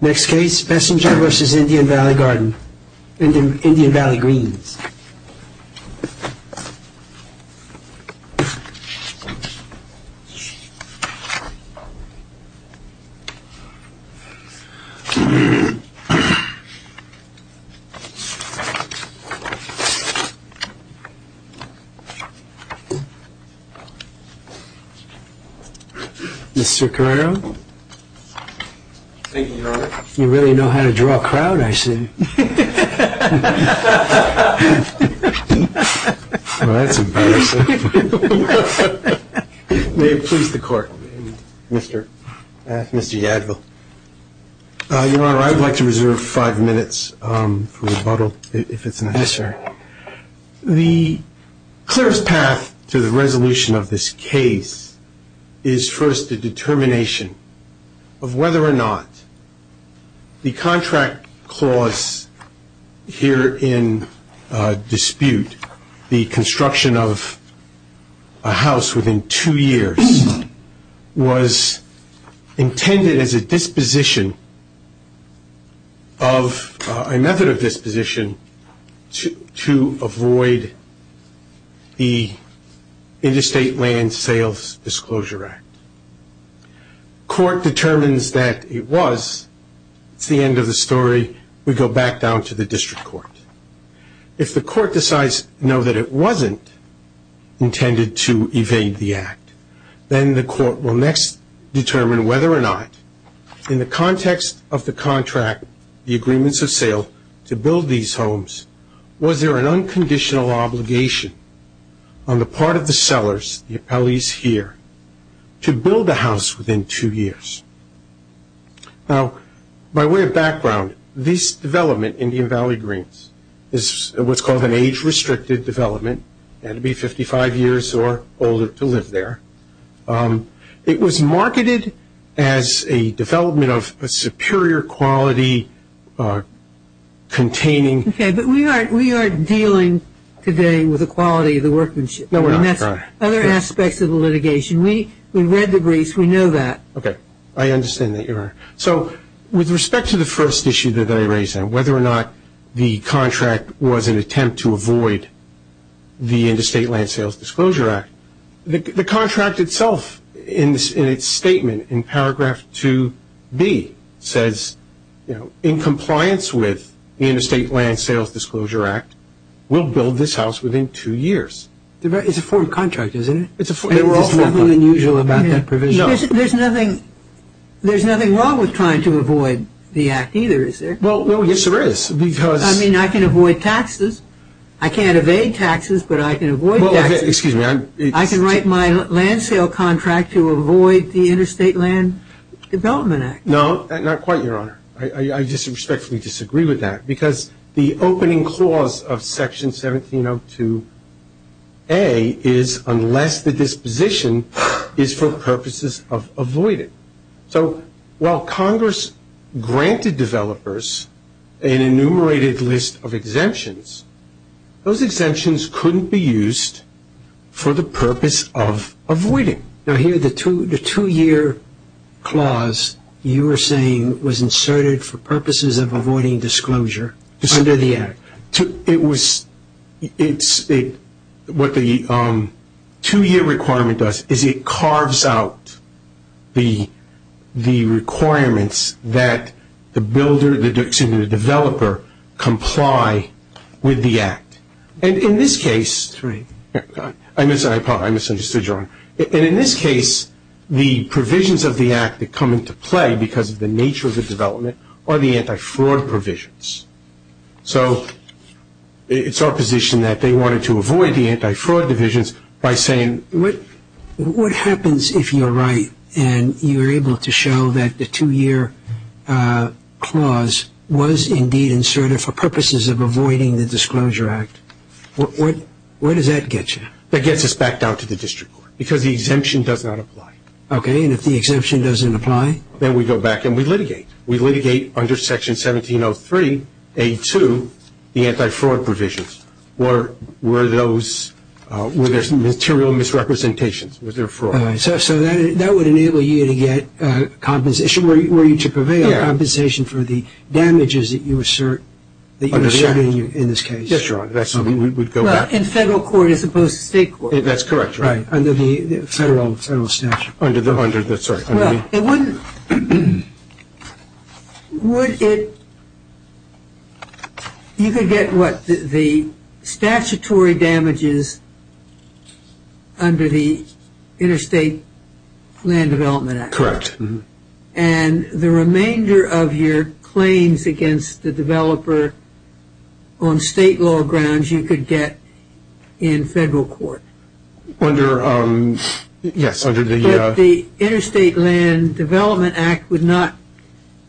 Next case, Bessinger v. Indian Valley Gardens, Indian Valley Greens. Mr. Carrero. Thank you, Your Honor. You really know how to draw a crowd, I see. Well, that's embarrassing. May it please the Court. Mr. Yadvil. Your Honor, I would like to reserve five minutes for rebuttal, if it's necessary. Yes, sir. The clearest path to the resolution of this case is first the determination of whether or not the contract clause herein dispute the construction of a house within two years was intended as a method of disposition to avoid the Interstate Land Sales Disclosure Act. Court determines that it was. It's the end of the story. We go back down to the district court. If the court decides no, that it wasn't intended to evade the act, then the court will next determine whether or not, in the context of the contract, the agreements of sale to build these homes, was there an unconditional obligation on the part of the sellers, the appellees here, to build a house within two years? Now, by way of background, this development, Indian Valley Greens, is what's called an age-restricted development. It had to be 55 years or older to live there. It was marketed as a development of a superior quality, containing. Okay, but we aren't dealing today with the quality of the workmanship. No, we're not. And that's other aspects of the litigation. We read the briefs. We know that. Okay, I understand that you're right. So with respect to the first issue that I raised, whether or not the contract was an attempt to avoid the Interstate Land Sales Disclosure Act, the contract itself in its statement in paragraph 2B says, in compliance with the Interstate Land Sales Disclosure Act, we'll build this house within two years. It's a form of contract, isn't it? There's nothing unusual about that provision. There's nothing wrong with trying to avoid the act either, is there? Well, yes, there is. I mean, I can avoid taxes. I can't evade taxes, but I can avoid taxes. Excuse me. I can write my land sale contract to avoid the Interstate Land Development Act. No, not quite, Your Honor. I just respectfully disagree with that because the opening clause of Section 1702A is unless the disposition is for purposes of avoiding. So while Congress granted developers an enumerated list of exemptions, those exemptions couldn't be used for the purpose of avoiding. Now, here, the two-year clause you were saying was inserted for purposes of avoiding disclosure under the act. It was what the two-year requirement does is it carves out the requirements that the builder, excuse me, the developer comply with the act. And in this case, I misunderstood, Your Honor. And in this case, the provisions of the act that come into play because of the nature of the development are the anti-fraud provisions. So it's our position that they wanted to avoid the anti-fraud divisions by saying... What happens if you're right and you're able to show that the two-year clause was indeed inserted for purposes of avoiding the Disclosure Act? Where does that get you? That gets us back down to the district court because the exemption does not apply. Okay, and if the exemption doesn't apply? Then we go back and we litigate. We litigate under Section 1703A2 the anti-fraud provisions. Were there material misrepresentations? Was there fraud? So that would enable you to get compensation, were you to prevail, Yes, Your Honor. In federal court as opposed to state court? That's correct, Your Honor. Under the federal statute. Sorry, under the... Well, it wouldn't... Would it... You could get, what, the statutory damages under the Interstate Land Development Act. Correct. And the remainder of your claims against the developer on state law grounds, you could get in federal court. Yes, under the... But the Interstate Land Development Act would not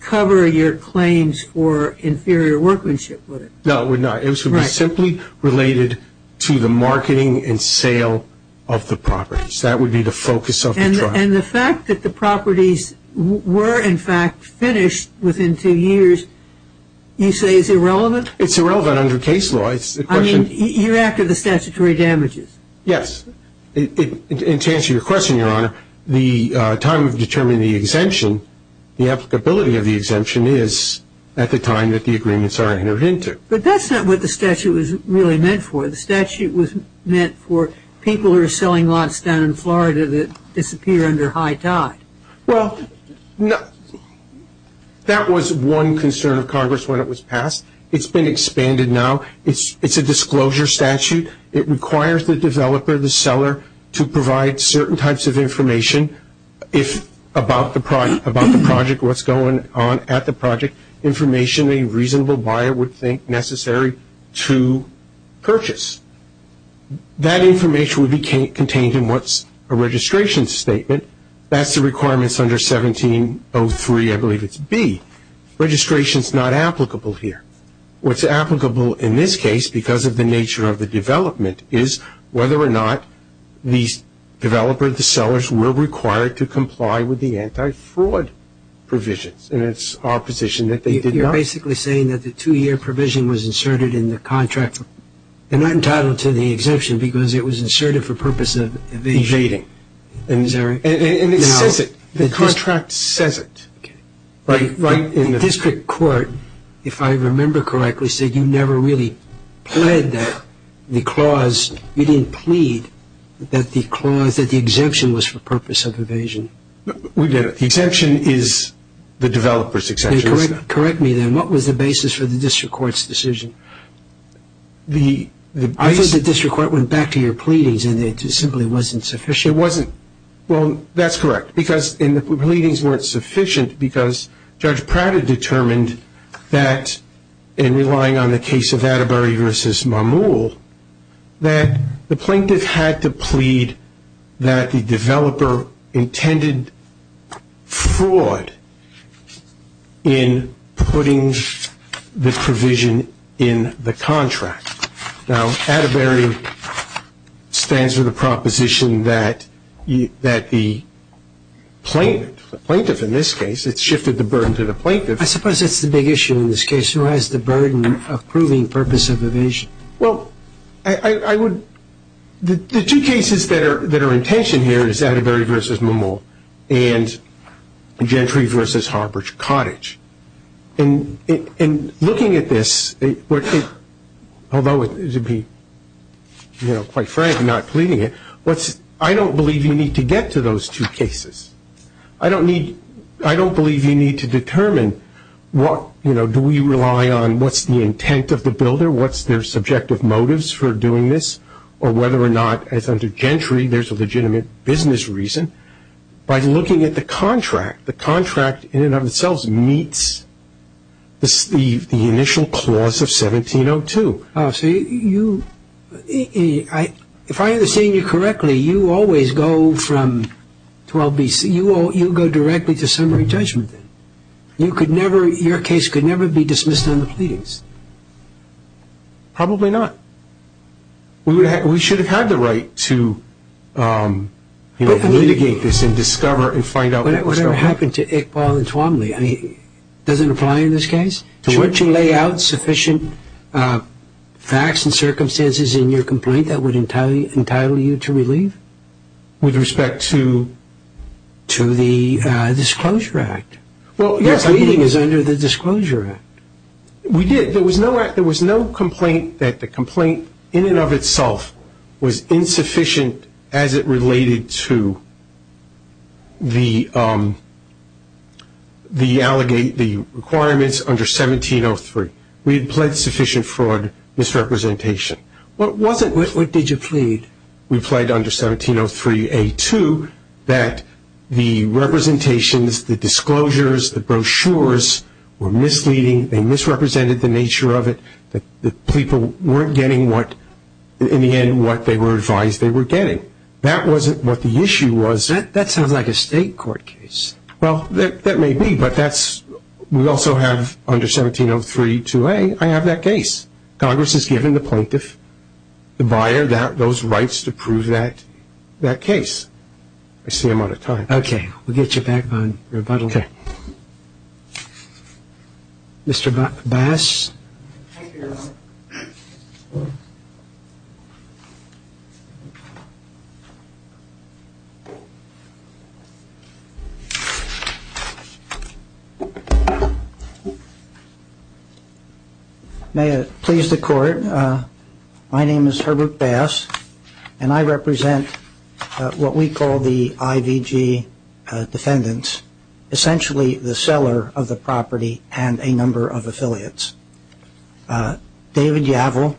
cover your claims for inferior workmanship, would it? No, it would not. It would be simply related to the marketing and sale of the properties. That would be the focus of the trial. And the fact that the properties were, in fact, finished within two years, you say is irrelevant? It's irrelevant under case law. I mean, you're after the statutory damages. Yes. And to answer your question, Your Honor, the time of determining the exemption, the applicability of the exemption is at the time that the agreements are entered into. But that's not what the statute was really meant for. The statute was meant for people who are selling lots down in Florida that disappear under high tide. Well, that was one concern of Congress when it was passed. It's been expanded now. It's a disclosure statute. It requires the developer, the seller, to provide certain types of information about the project, what's going on at the project, information a reasonable buyer would think necessary to purchase. That information would be contained in what's a registration statement. That's the requirements under 1703, I believe it's B. Registration is not applicable here. What's applicable in this case because of the nature of the development is whether or not the developer, the sellers, were required to comply with the anti-fraud provisions. And it's our position that they did not. You're basically saying that the two-year provision was inserted in the contract. They're not entitled to the exemption because it was inserted for purpose of evasion. Evading. Is that right? And it says it. The contract says it. Okay. The district court, if I remember correctly, said you never really pled that. You didn't plead that the exemption was for purpose of evasion. We did it. The exemption is the developer's exemption. Correct me then. What was the basis for the district court's decision? The district court went back to your pleadings and it simply wasn't sufficient. It wasn't. Well, that's correct. And the pleadings weren't sufficient because Judge Pratt had determined that, in relying on the case of Atterbury v. Marmoule, that the plaintiff had to plead that the developer intended fraud in putting the provision in the contract. Now, Atterbury stands for the proposition that the plaintiff, in this case, it shifted the burden to the plaintiff. I suppose that's the big issue in this case. Who has the burden of proving purpose of evasion? Well, I would – the two cases that are in tension here is Atterbury v. Marmoule and Gentry v. Harbridge Cottage. And looking at this, although to be, you know, quite frank, not pleading it, I don't believe you need to get to those two cases. I don't need – I don't believe you need to determine what, you know, do we rely on what's the intent of the builder, what's their subjective motives for doing this, or whether or not, as under Gentry, there's a legitimate business reason. By looking at the contract, the contract in and of itself meets the initial clause of 1702. So you – if I understand you correctly, you always go from 12 B.C. You go directly to summary judgment. You could never – your case could never be dismissed on the pleadings. Probably not. We should have had the right to, you know, litigate this and discover and find out what was going on. Whatever happened to Iqbal and Twombly, I mean, does it apply in this case? Would you lay out sufficient facts and circumstances in your complaint that would entitle you to relieve? With respect to? To the Disclosure Act. Well, yes. The pleading is under the Disclosure Act. We did. There was no complaint that the complaint in and of itself was insufficient as it related to the – the requirements under 1703. We had pled sufficient fraud misrepresentation. What was it? What did you plead? We pled under 1703A2 that the representations, the disclosures, the brochures were misleading. They misrepresented the nature of it. The people weren't getting what – in the end, what they were advised they were getting. That wasn't what the issue was. That sounds like a state court case. Well, that may be, but that's – we also have under 17032A, I have that case. Congress has given the plaintiff, the buyer, those rights to prove that case. I see I'm out of time. Okay. We'll get you back on rebuttal. Okay. Mr. Bass. Thank you. May it please the Court, my name is Herbert Bass, and I represent what we call the IVG defendants, essentially the seller of the property and a number of affiliates. David Yavel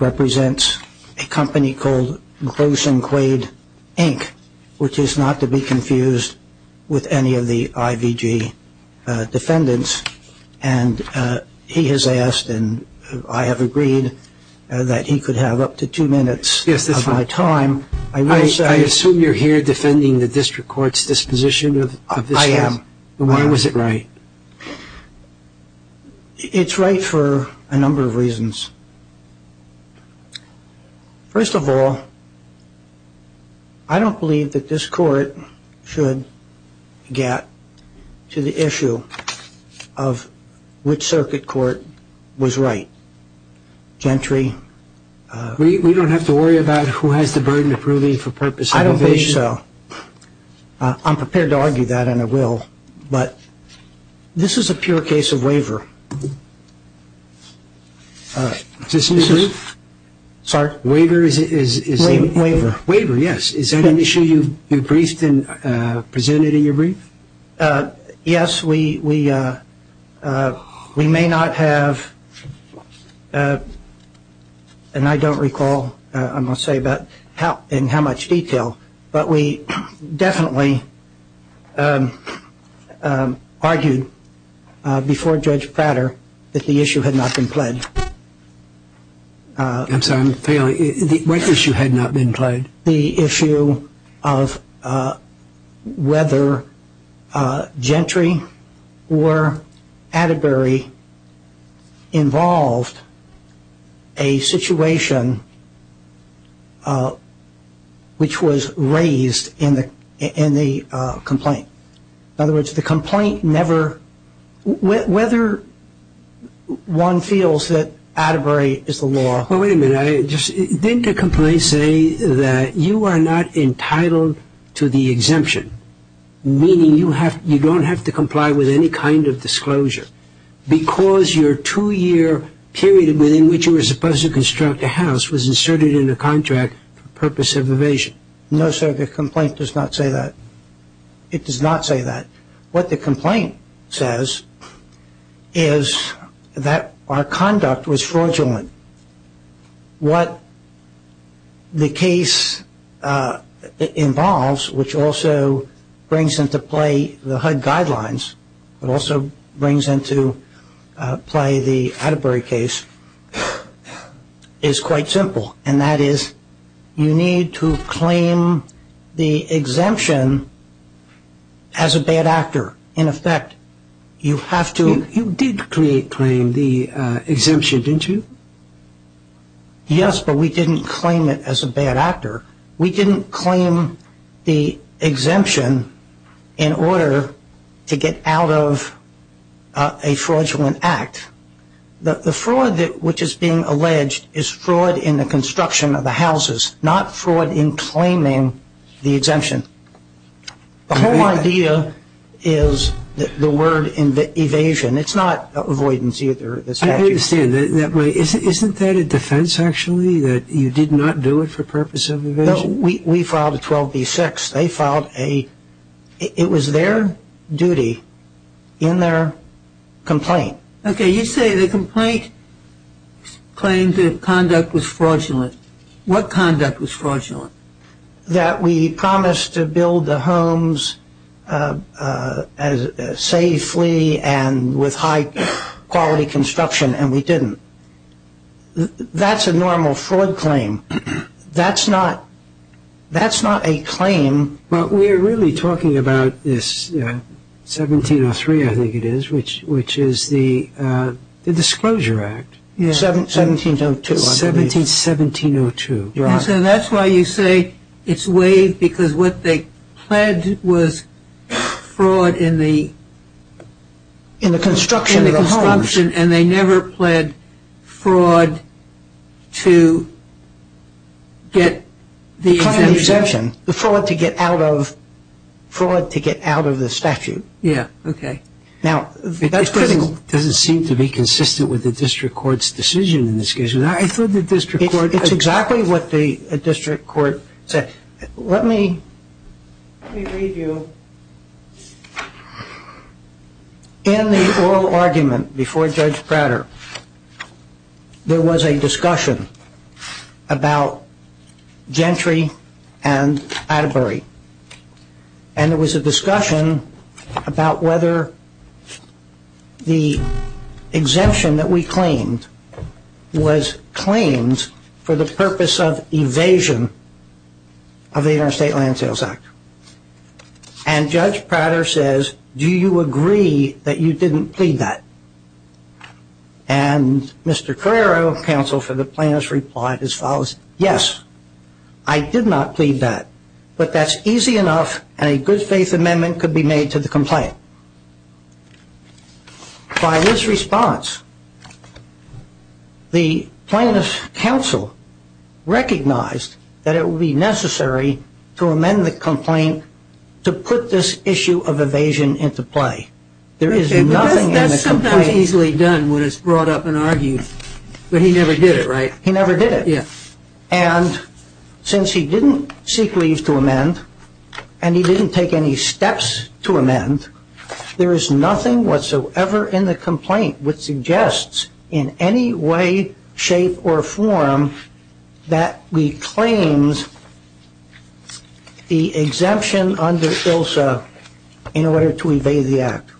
represents a company called Gros and Quaid, Inc., which is not to be confused with any of the IVG defendants, and he has asked and I have agreed that he could have up to two minutes of my time. I assume you're here defending the district court's disposition of this case. I am. Why was it right? It's right for a number of reasons. First of all, I don't believe that this Court should get to the issue of which circuit court was right. Gentry. We don't have to worry about who has the burden of proving for purpose of evasion? I don't think so. I'm prepared to argue that and I will, but this is a pure case of waiver. Is this a new brief? Waiver? Waiver. Waiver, yes. Is that an issue you briefed and presented in your brief? Yes. We may not have, and I don't recall, I must say, in how much detail, but we definitely argued before Judge Prater that the issue had not been pled. I'm sorry, I'm failing. What issue had not been pled? The issue of whether Gentry or Atterbury involved a situation which was raised in the complaint. In other words, the complaint never, whether one feels that Atterbury is the law. Well, wait a minute. Didn't the complaint say that you are not entitled to the exemption, meaning you don't have to comply with any kind of disclosure, because your two-year period within which you were supposed to construct a house was inserted in the contract for purpose of evasion? No, sir, the complaint does not say that. It does not say that. What the complaint says is that our conduct was fraudulent. What the case involves, which also brings into play the HUD guidelines, but also brings into play the Atterbury case, is quite simple, and that is you need to claim the exemption as a bad actor. In effect, you have to. You did claim the exemption, didn't you? Yes, but we didn't claim it as a bad actor. We didn't claim the exemption in order to get out of a fraudulent act. The fraud which is being alleged is fraud in the construction of the houses, not fraud in claiming the exemption. The whole idea is the word evasion. It's not avoidance either. I understand. Isn't that a defense, actually, that you did not do it for purpose of evasion? No, we filed a 12B6. It was their duty in their complaint. Okay, you say the complaint claims that conduct was fraudulent. What conduct was fraudulent? That we promised to build the homes safely and with high-quality construction, and we didn't. That's a normal fraud claim. That's not a claim. But we're really talking about this 1703, I think it is, which is the Disclosure Act. 1702, I believe. 1702. So that's why you say it's waived because what they pled was fraud in the construction of the homes, and they never pled fraud to get the exemption. The fraud to get out of the statute. Yeah, okay. Now, that's critical. It doesn't seem to be consistent with the district court's decision in this case. I thought the district court. It's exactly what the district court said. Let me read you. In the oral argument before Judge Prater, there was a discussion about Gentry and Atterbury, and there was a discussion about whether the exemption that we claimed was claimed for the purpose of evasion of the Interstate Land Sales Act. And Judge Prater says, do you agree that you didn't plead that? And Mr. Carrero, counsel for the plaintiffs, replied as follows. Yes, I did not plead that, but that's easy enough, and a good faith amendment could be made to the complaint. By this response, the plaintiff's counsel recognized that it would be necessary to amend the complaint to put this issue of evasion into play. There is nothing in the complaint. That's sometimes easily done when it's brought up and argued, but he never did it, right? He never did it. And since he didn't seek leave to amend, and he didn't take any steps to amend, there is nothing whatsoever in the complaint which suggests in any way, shape, or form that we claimed the exemption under ILSA in order to evade the Act.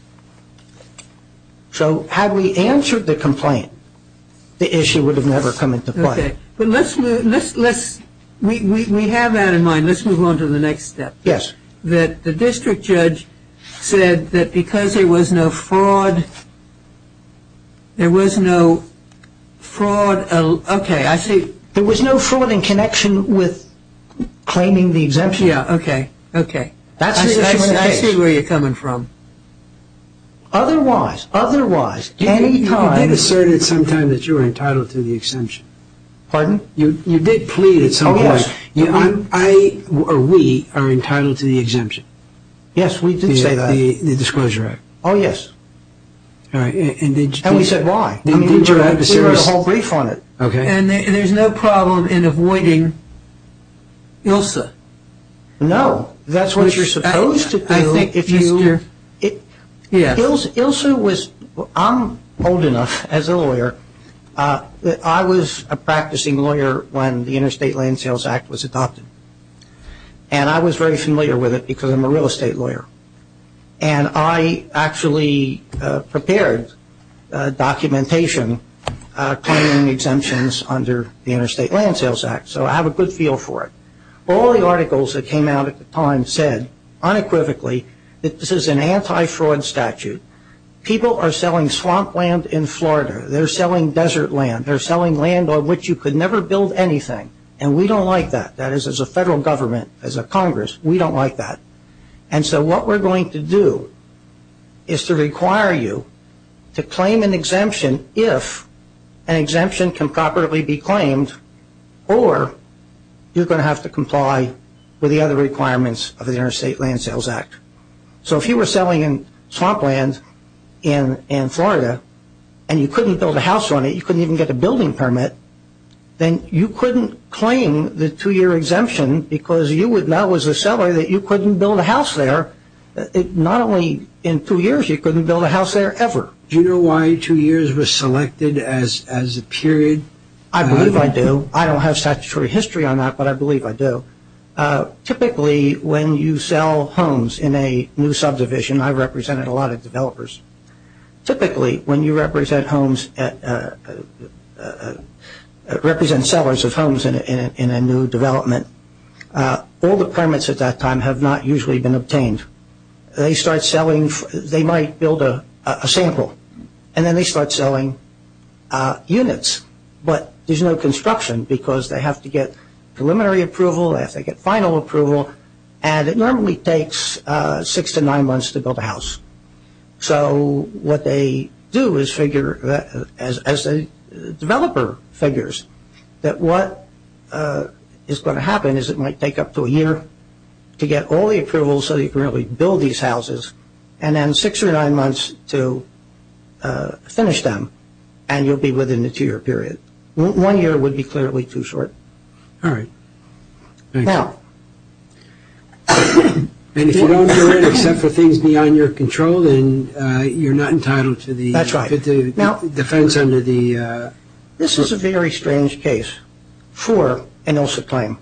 So had we answered the complaint, the issue would have never come into play. Okay, but let's move, we have that in mind, let's move on to the next step. Yes. That the district judge said that because there was no fraud, there was no fraud, okay, I see. There was no fraud in connection with claiming the exemption. Yeah, okay, okay. I see where you're coming from. Otherwise, otherwise, anytime. You did assert at some time that you were entitled to the exemption. Pardon? You did plead at some point. Oh, yes. I, or we, are entitled to the exemption. Yes, we did say that. The Disclosure Act. Oh, yes. And we said why. We wrote a whole brief on it. Okay. And there's no problem in avoiding ILSA. No, that's what you're supposed to do. I think if you, ILSA was, I'm old enough as a lawyer, I was a practicing lawyer when the Interstate Land Sales Act was adopted. And I was very familiar with it because I'm a real estate lawyer. And I actually prepared documentation claiming exemptions under the Interstate Land Sales Act. So I have a good feel for it. All the articles that came out at the time said unequivocally that this is an anti-fraud statute. People are selling swamp land in Florida. They're selling desert land. They're selling land on which you could never build anything. And we don't like that. That is, as a federal government, as a Congress, we don't like that. And so what we're going to do is to require you to claim an exemption if an exemption can properly be claimed, or you're going to have to comply with the other requirements of the Interstate Land Sales Act. So if you were selling in swamp land in Florida and you couldn't build a house on it, you couldn't even get a building permit, then you couldn't claim the two-year exemption because you would know as a seller that you couldn't build a house there. Not only in two years, you couldn't build a house there ever. Do you know why two years was selected as a period? I believe I do. I don't have statutory history on that, but I believe I do. Typically, when you sell homes in a new subdivision, I represented a lot of developers. Typically, when you represent sellers of homes in a new development, all the permits at that time have not usually been obtained. They might build a sample, and then they start selling units, but there's no construction because they have to get preliminary approval, they have to get final approval, and it normally takes six to nine months to build a house. So what they do is figure, as the developer figures, that what is going to happen is it might take up to a year to get all the approval so you can really build these houses, and then six or nine months to finish them, and you'll be within the two-year period. One year would be clearly too short. All right. Thanks. Now... And if you don't do it except for things beyond your control, then you're not entitled to the... That's right. ...defense under the... This is a very strange case for an ILSA claim.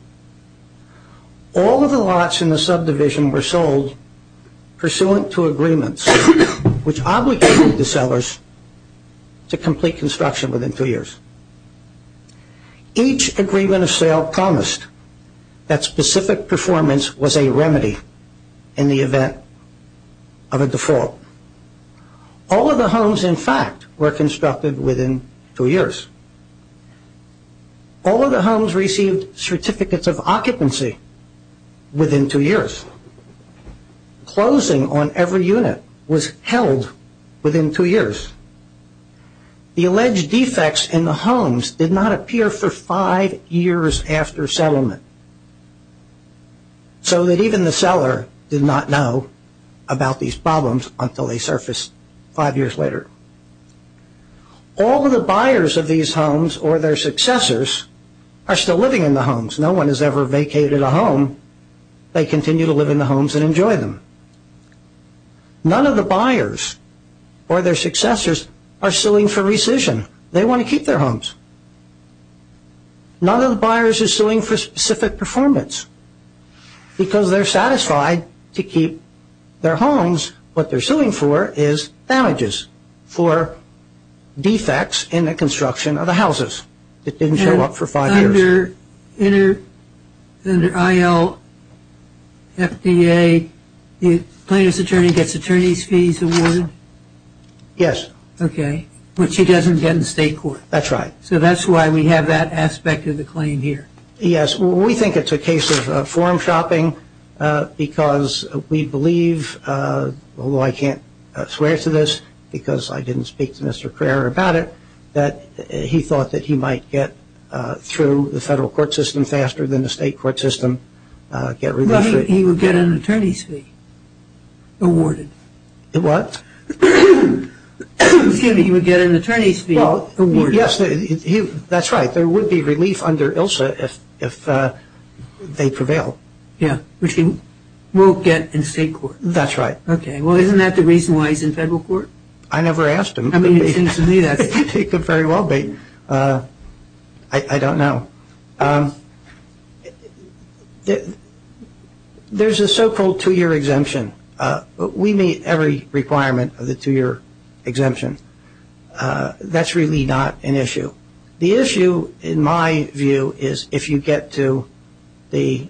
All of the lots in the subdivision were sold pursuant to agreements which obligated the sellers to complete construction within two years. Each agreement of sale promised that specific performance was a remedy in the event of a default. All of the homes, in fact, were constructed within two years. All of the homes received certificates of occupancy within two years. Closing on every unit was held within two years. The alleged defects in the homes did not appear for five years after settlement, so that even the seller did not know about these problems until they surfaced five years later. All of the buyers of these homes or their successors are still living in the homes. No one has ever vacated a home. They continue to live in the homes and enjoy them. None of the buyers or their successors are suing for rescission. They want to keep their homes. None of the buyers are suing for specific performance because they're satisfied to keep their homes. What they're suing for is damages for defects in the construction of the houses. It didn't show up for five years. Under ILFDA, the plaintiff's attorney gets attorney's fees awarded? Yes. Okay, which he doesn't get in state court. That's right. So that's why we have that aspect of the claim here. Yes. We think it's a case of form shopping because we believe, although I can't swear to this because I didn't speak to Mr. Crerar about it, that he thought that he might get through the federal court system faster than the state court system. He would get an attorney's fee awarded. What? Excuse me. He would get an attorney's fee awarded. Yes. That's right. There would be relief under ILSA if they prevail. Yes. Which he won't get in state court. That's right. Okay. Well, isn't that the reason why he's in federal court? I never asked him. I mean, it seems to me that's the reason. It could very well be. I don't know. There's a so-called two-year exemption. We meet every requirement of the two-year exemption. That's really not an issue. The issue, in my view, is if you get to the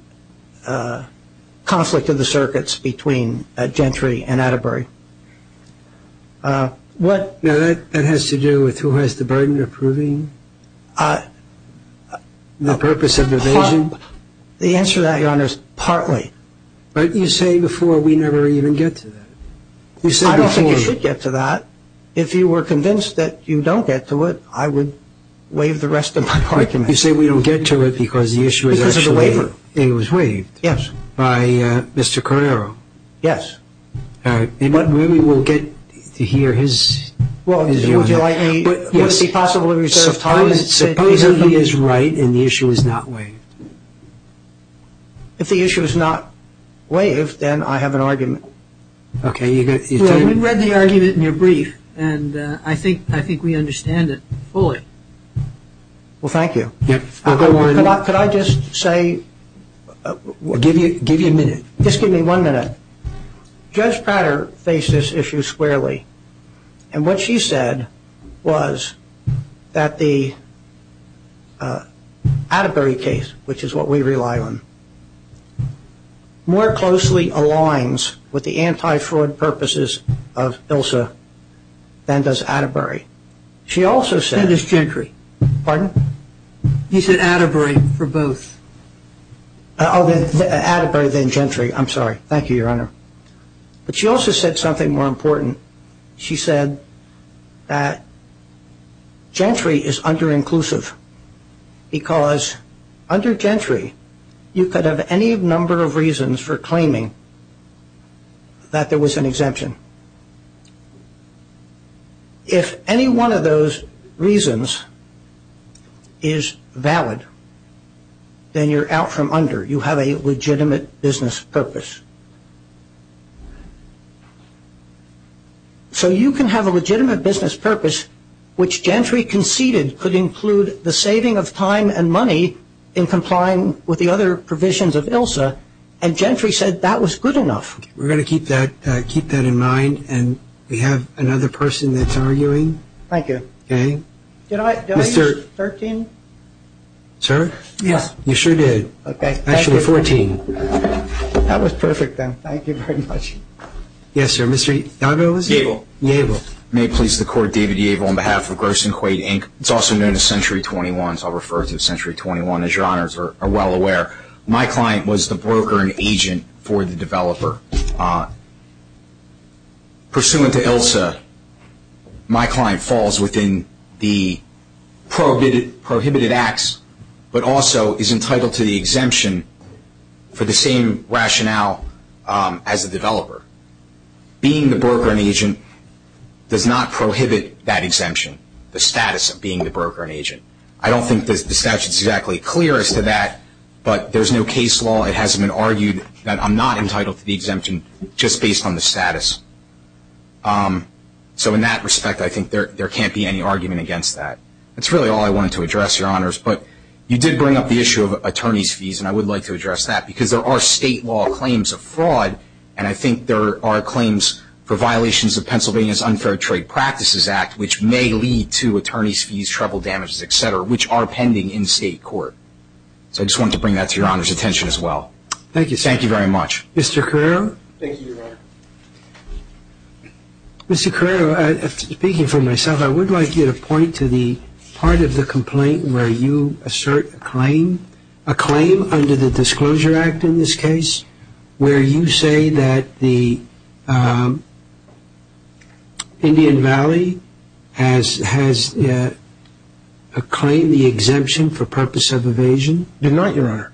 conflict of the circuits between Gentry and Atterbury. Now, that has to do with who has the burden of proving the purpose of evasion? The answer to that, Your Honor, is partly. But you say before we never even get to that. I don't think you should get to that. If you were convinced that you don't get to it, I would waive the rest of my argument. You say we don't get to it because the issue was actually waived by Mr. Carrero. Yes. But we will get to hear his view. Would it be possible to reserve time? Supposedly he is right and the issue is not waived. If the issue is not waived, then I have an argument. Okay. We read the argument in your brief, and I think we understand it fully. Well, thank you. Could I just say? Give you a minute. Just give me one minute. Judge Prater faced this issue squarely. And what she said was that the Atterbury case, which is what we rely on, more closely aligns with the anti-fraud purposes of ILSA than does Atterbury. She also said. That is Gentry. Pardon? He said Atterbury for both. Oh, Atterbury then Gentry. I'm sorry. Thank you, Your Honor. But she also said something more important. She said that Gentry is under-inclusive because under Gentry, you could have any number of reasons for claiming that there was an exemption. If any one of those reasons is valid, then you're out from under. You have a legitimate business purpose. So you can have a legitimate business purpose, which Gentry conceded could include the saving of time and money in complying with the other provisions of ILSA. And Gentry said that was good enough. We're going to keep that in mind. And we have another person that's arguing. Thank you. Okay. Did I use 13? Sir? Yes. You sure did. Okay. Actually, 14. That was perfect then. Thank you very much. Yes, sir. Mr. Yarbrough? Yable. Yable. May it please the Court, David Yable on behalf of Gross & Quaid, Inc. It's also known as Century 21, so I'll refer to Century 21, as Your Honors are well aware. My client was the broker and agent for the developer. Pursuant to ILSA, my client falls within the prohibited acts but also is entitled to the exemption for the same rationale as the developer. Being the broker and agent does not prohibit that exemption, the status of being the broker and agent. I don't think the statute is exactly clear as to that, but there's no case law. It hasn't been argued that I'm not entitled to the exemption just based on the status. So in that respect, I think there can't be any argument against that. That's really all I wanted to address, Your Honors. But you did bring up the issue of attorney's fees, and I would like to address that, because there are state law claims of fraud, and I think there are claims for violations of Pennsylvania's Unfair Trade Practices Act, which may lead to attorney's fees, trouble damages, et cetera, which are pending in state court. So I just wanted to bring that to Your Honor's attention as well. Thank you, sir. Thank you very much. Mr. Carrero? Thank you, Your Honor. Mr. Carrero, speaking for myself, I would like you to point to the part of the complaint where you assert a claim, a claim under the Disclosure Act in this case, where you say that the Indian Valley has claimed the exemption for purpose of evasion. I did not, Your Honor.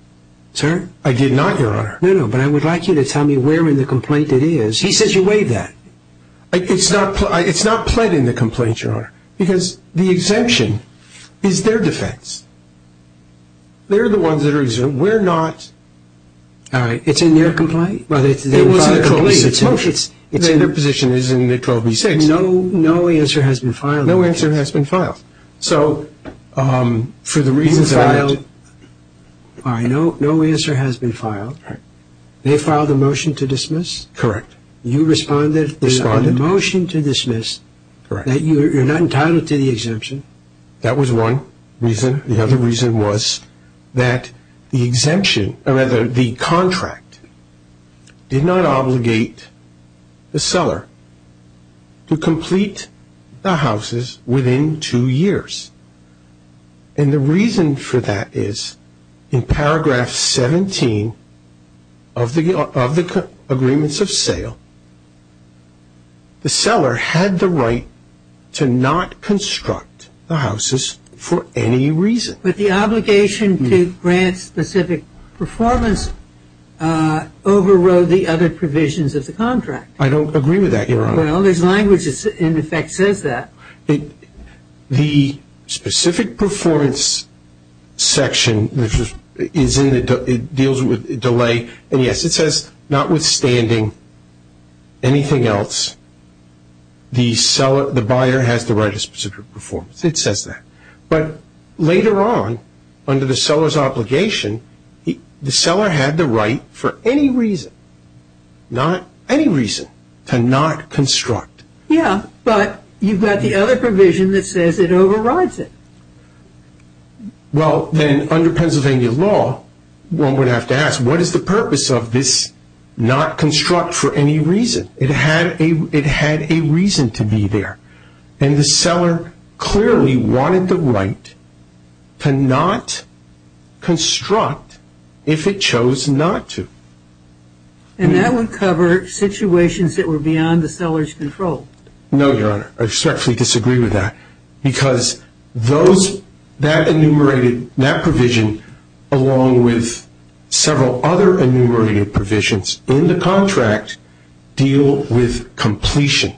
Sir? I did not, Your Honor. No, no, but I would like you to tell me where in the complaint it is. He says you waived that. It's not pled in the complaint, Your Honor, because the exemption is their defense. They're the ones that are exempt. All right. It's in their complaint? It's in their position. It's in the 12b-6. No answer has been filed. No answer has been filed. So for the reasons that I know. All right. No answer has been filed. All right. They filed a motion to dismiss. Correct. You responded. Responded. There's a motion to dismiss that you're not entitled to the exemption. That was one reason. The other reason was that the exemption, or rather the contract, did not obligate the seller to complete the houses within two years. And the reason for that is in paragraph 17 of the agreements of sale, the seller had the right to not construct the houses for any reason. But the obligation to grant specific performance overrode the other provisions of the contract. I don't agree with that, Your Honor. Well, there's language that in effect says that. The specific performance section, which is in the deals with delay, and, yes, it says notwithstanding anything else, the buyer has the right to specific performance. It says that. But later on, under the seller's obligation, the seller had the right for any reason, not any reason, to not construct. Yeah, but you've got the other provision that says it overrides it. Well, then under Pennsylvania law, one would have to ask, what is the purpose of this not construct for any reason? It had a reason to be there. And the seller clearly wanted the right to not construct if it chose not to. And that would cover situations that were beyond the seller's control. No, Your Honor. I respectfully disagree with that. Because that enumerated, that provision, along with several other enumerated provisions in the contract, deal with completion.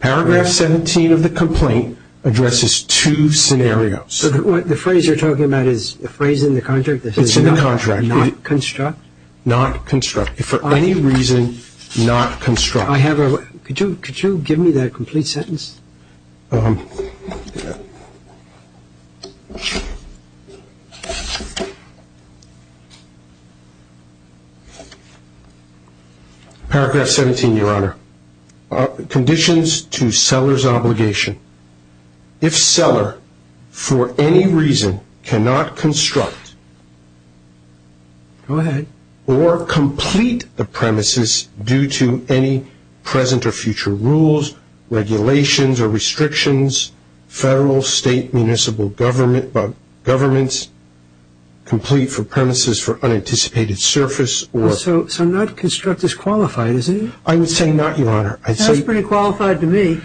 Paragraph 17 of the complaint addresses two scenarios. So the phrase you're talking about is the phrase in the contract that says not construct? It's in the contract. Not construct. If for any reason not construct. I have a question. Could you give me that complete sentence? Paragraph 17, Your Honor. Conditions to seller's obligation. If seller for any reason cannot construct. Go ahead. Or complete the premises due to any present or future rules, regulations, or restrictions, federal, state, municipal, government, governments, complete for premises for unanticipated surface, or. So not construct is qualified, isn't it? I would say not, Your Honor. That's pretty qualified to me.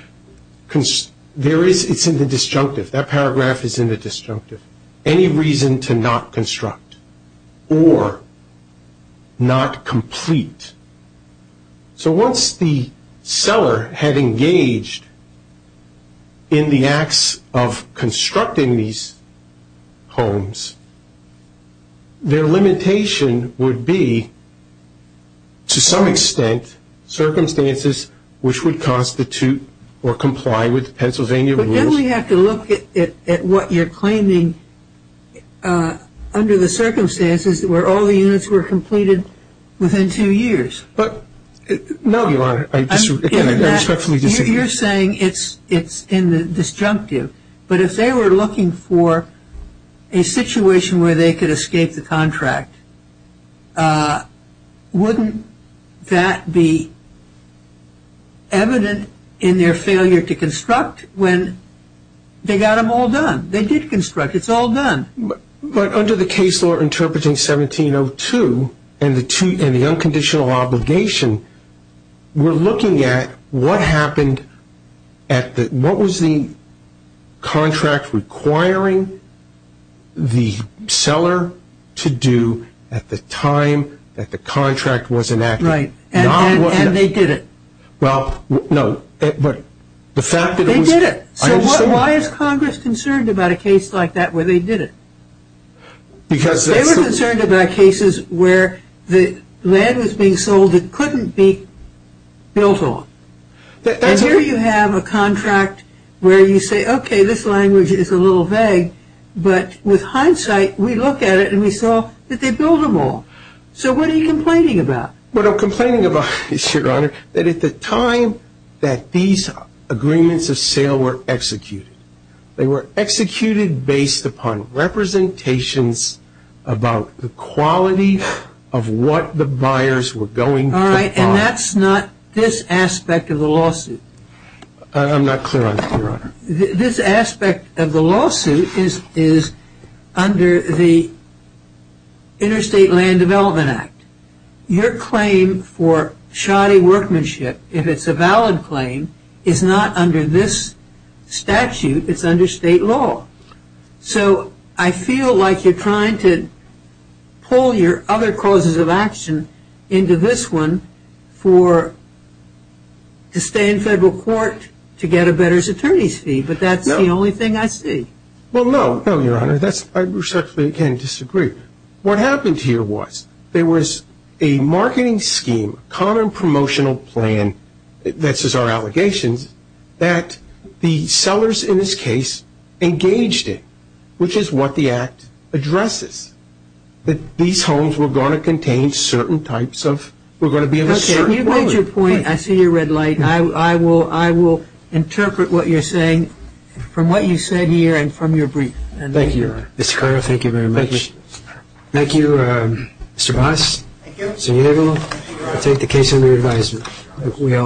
There is, it's in the disjunctive. That paragraph is in the disjunctive. Any reason to not construct. Or not complete. So once the seller had engaged in the acts of constructing these homes, their limitation would be to some extent circumstances which would constitute or comply with Pennsylvania rules. Then we have to look at what you're claiming under the circumstances where all the units were completed within two years. No, Your Honor. I respectfully disagree. You're saying it's in the disjunctive. But if they were looking for a situation where they could escape the contract, wouldn't that be evident in their failure to construct when they got them all done? They did construct. It's all done. But under the case law interpreting 1702 and the unconditional obligation, we're looking at what happened at the, what was the contract requiring the seller to do at the time that the contract was enacted. Right. And they did it. Well, no, but the fact that it was. They did it. So why is Congress concerned about a case like that where they did it? Because. They were concerned about cases where the land was being sold that couldn't be built on. And here you have a contract where you say, okay, this language is a little vague. But with hindsight, we look at it and we saw that they built them all. So what are you complaining about? What I'm complaining about is, Your Honor, that at the time that these agreements of sale were executed, they were executed based upon representations about the quality of what the buyers were going to buy. All right. And that's not this aspect of the lawsuit. I'm not clear on that, Your Honor. This aspect of the lawsuit is under the Interstate Land Development Act. Your claim for shoddy workmanship, if it's a valid claim, is not under this statute. It's under state law. So I feel like you're trying to pull your other causes of action into this one for, to stay in federal court to get a better attorney's fee. But that's the only thing I see. Well, no. No, Your Honor. I respectfully can't disagree. What happened here was there was a marketing scheme, a common promotional plan, this is our allegations, that the sellers in this case engaged in, which is what the Act addresses, that these homes were going to contain certain types of, were going to be of a certain quality. Let me make your point. I see your red light. I will interpret what you're saying from what you said here and from your brief. Thank you, Your Honor. Mr. Carrillo, thank you very much. Thank you, Mr. Bass. Thank you. So you're able to take the case under your advisement. Thank you.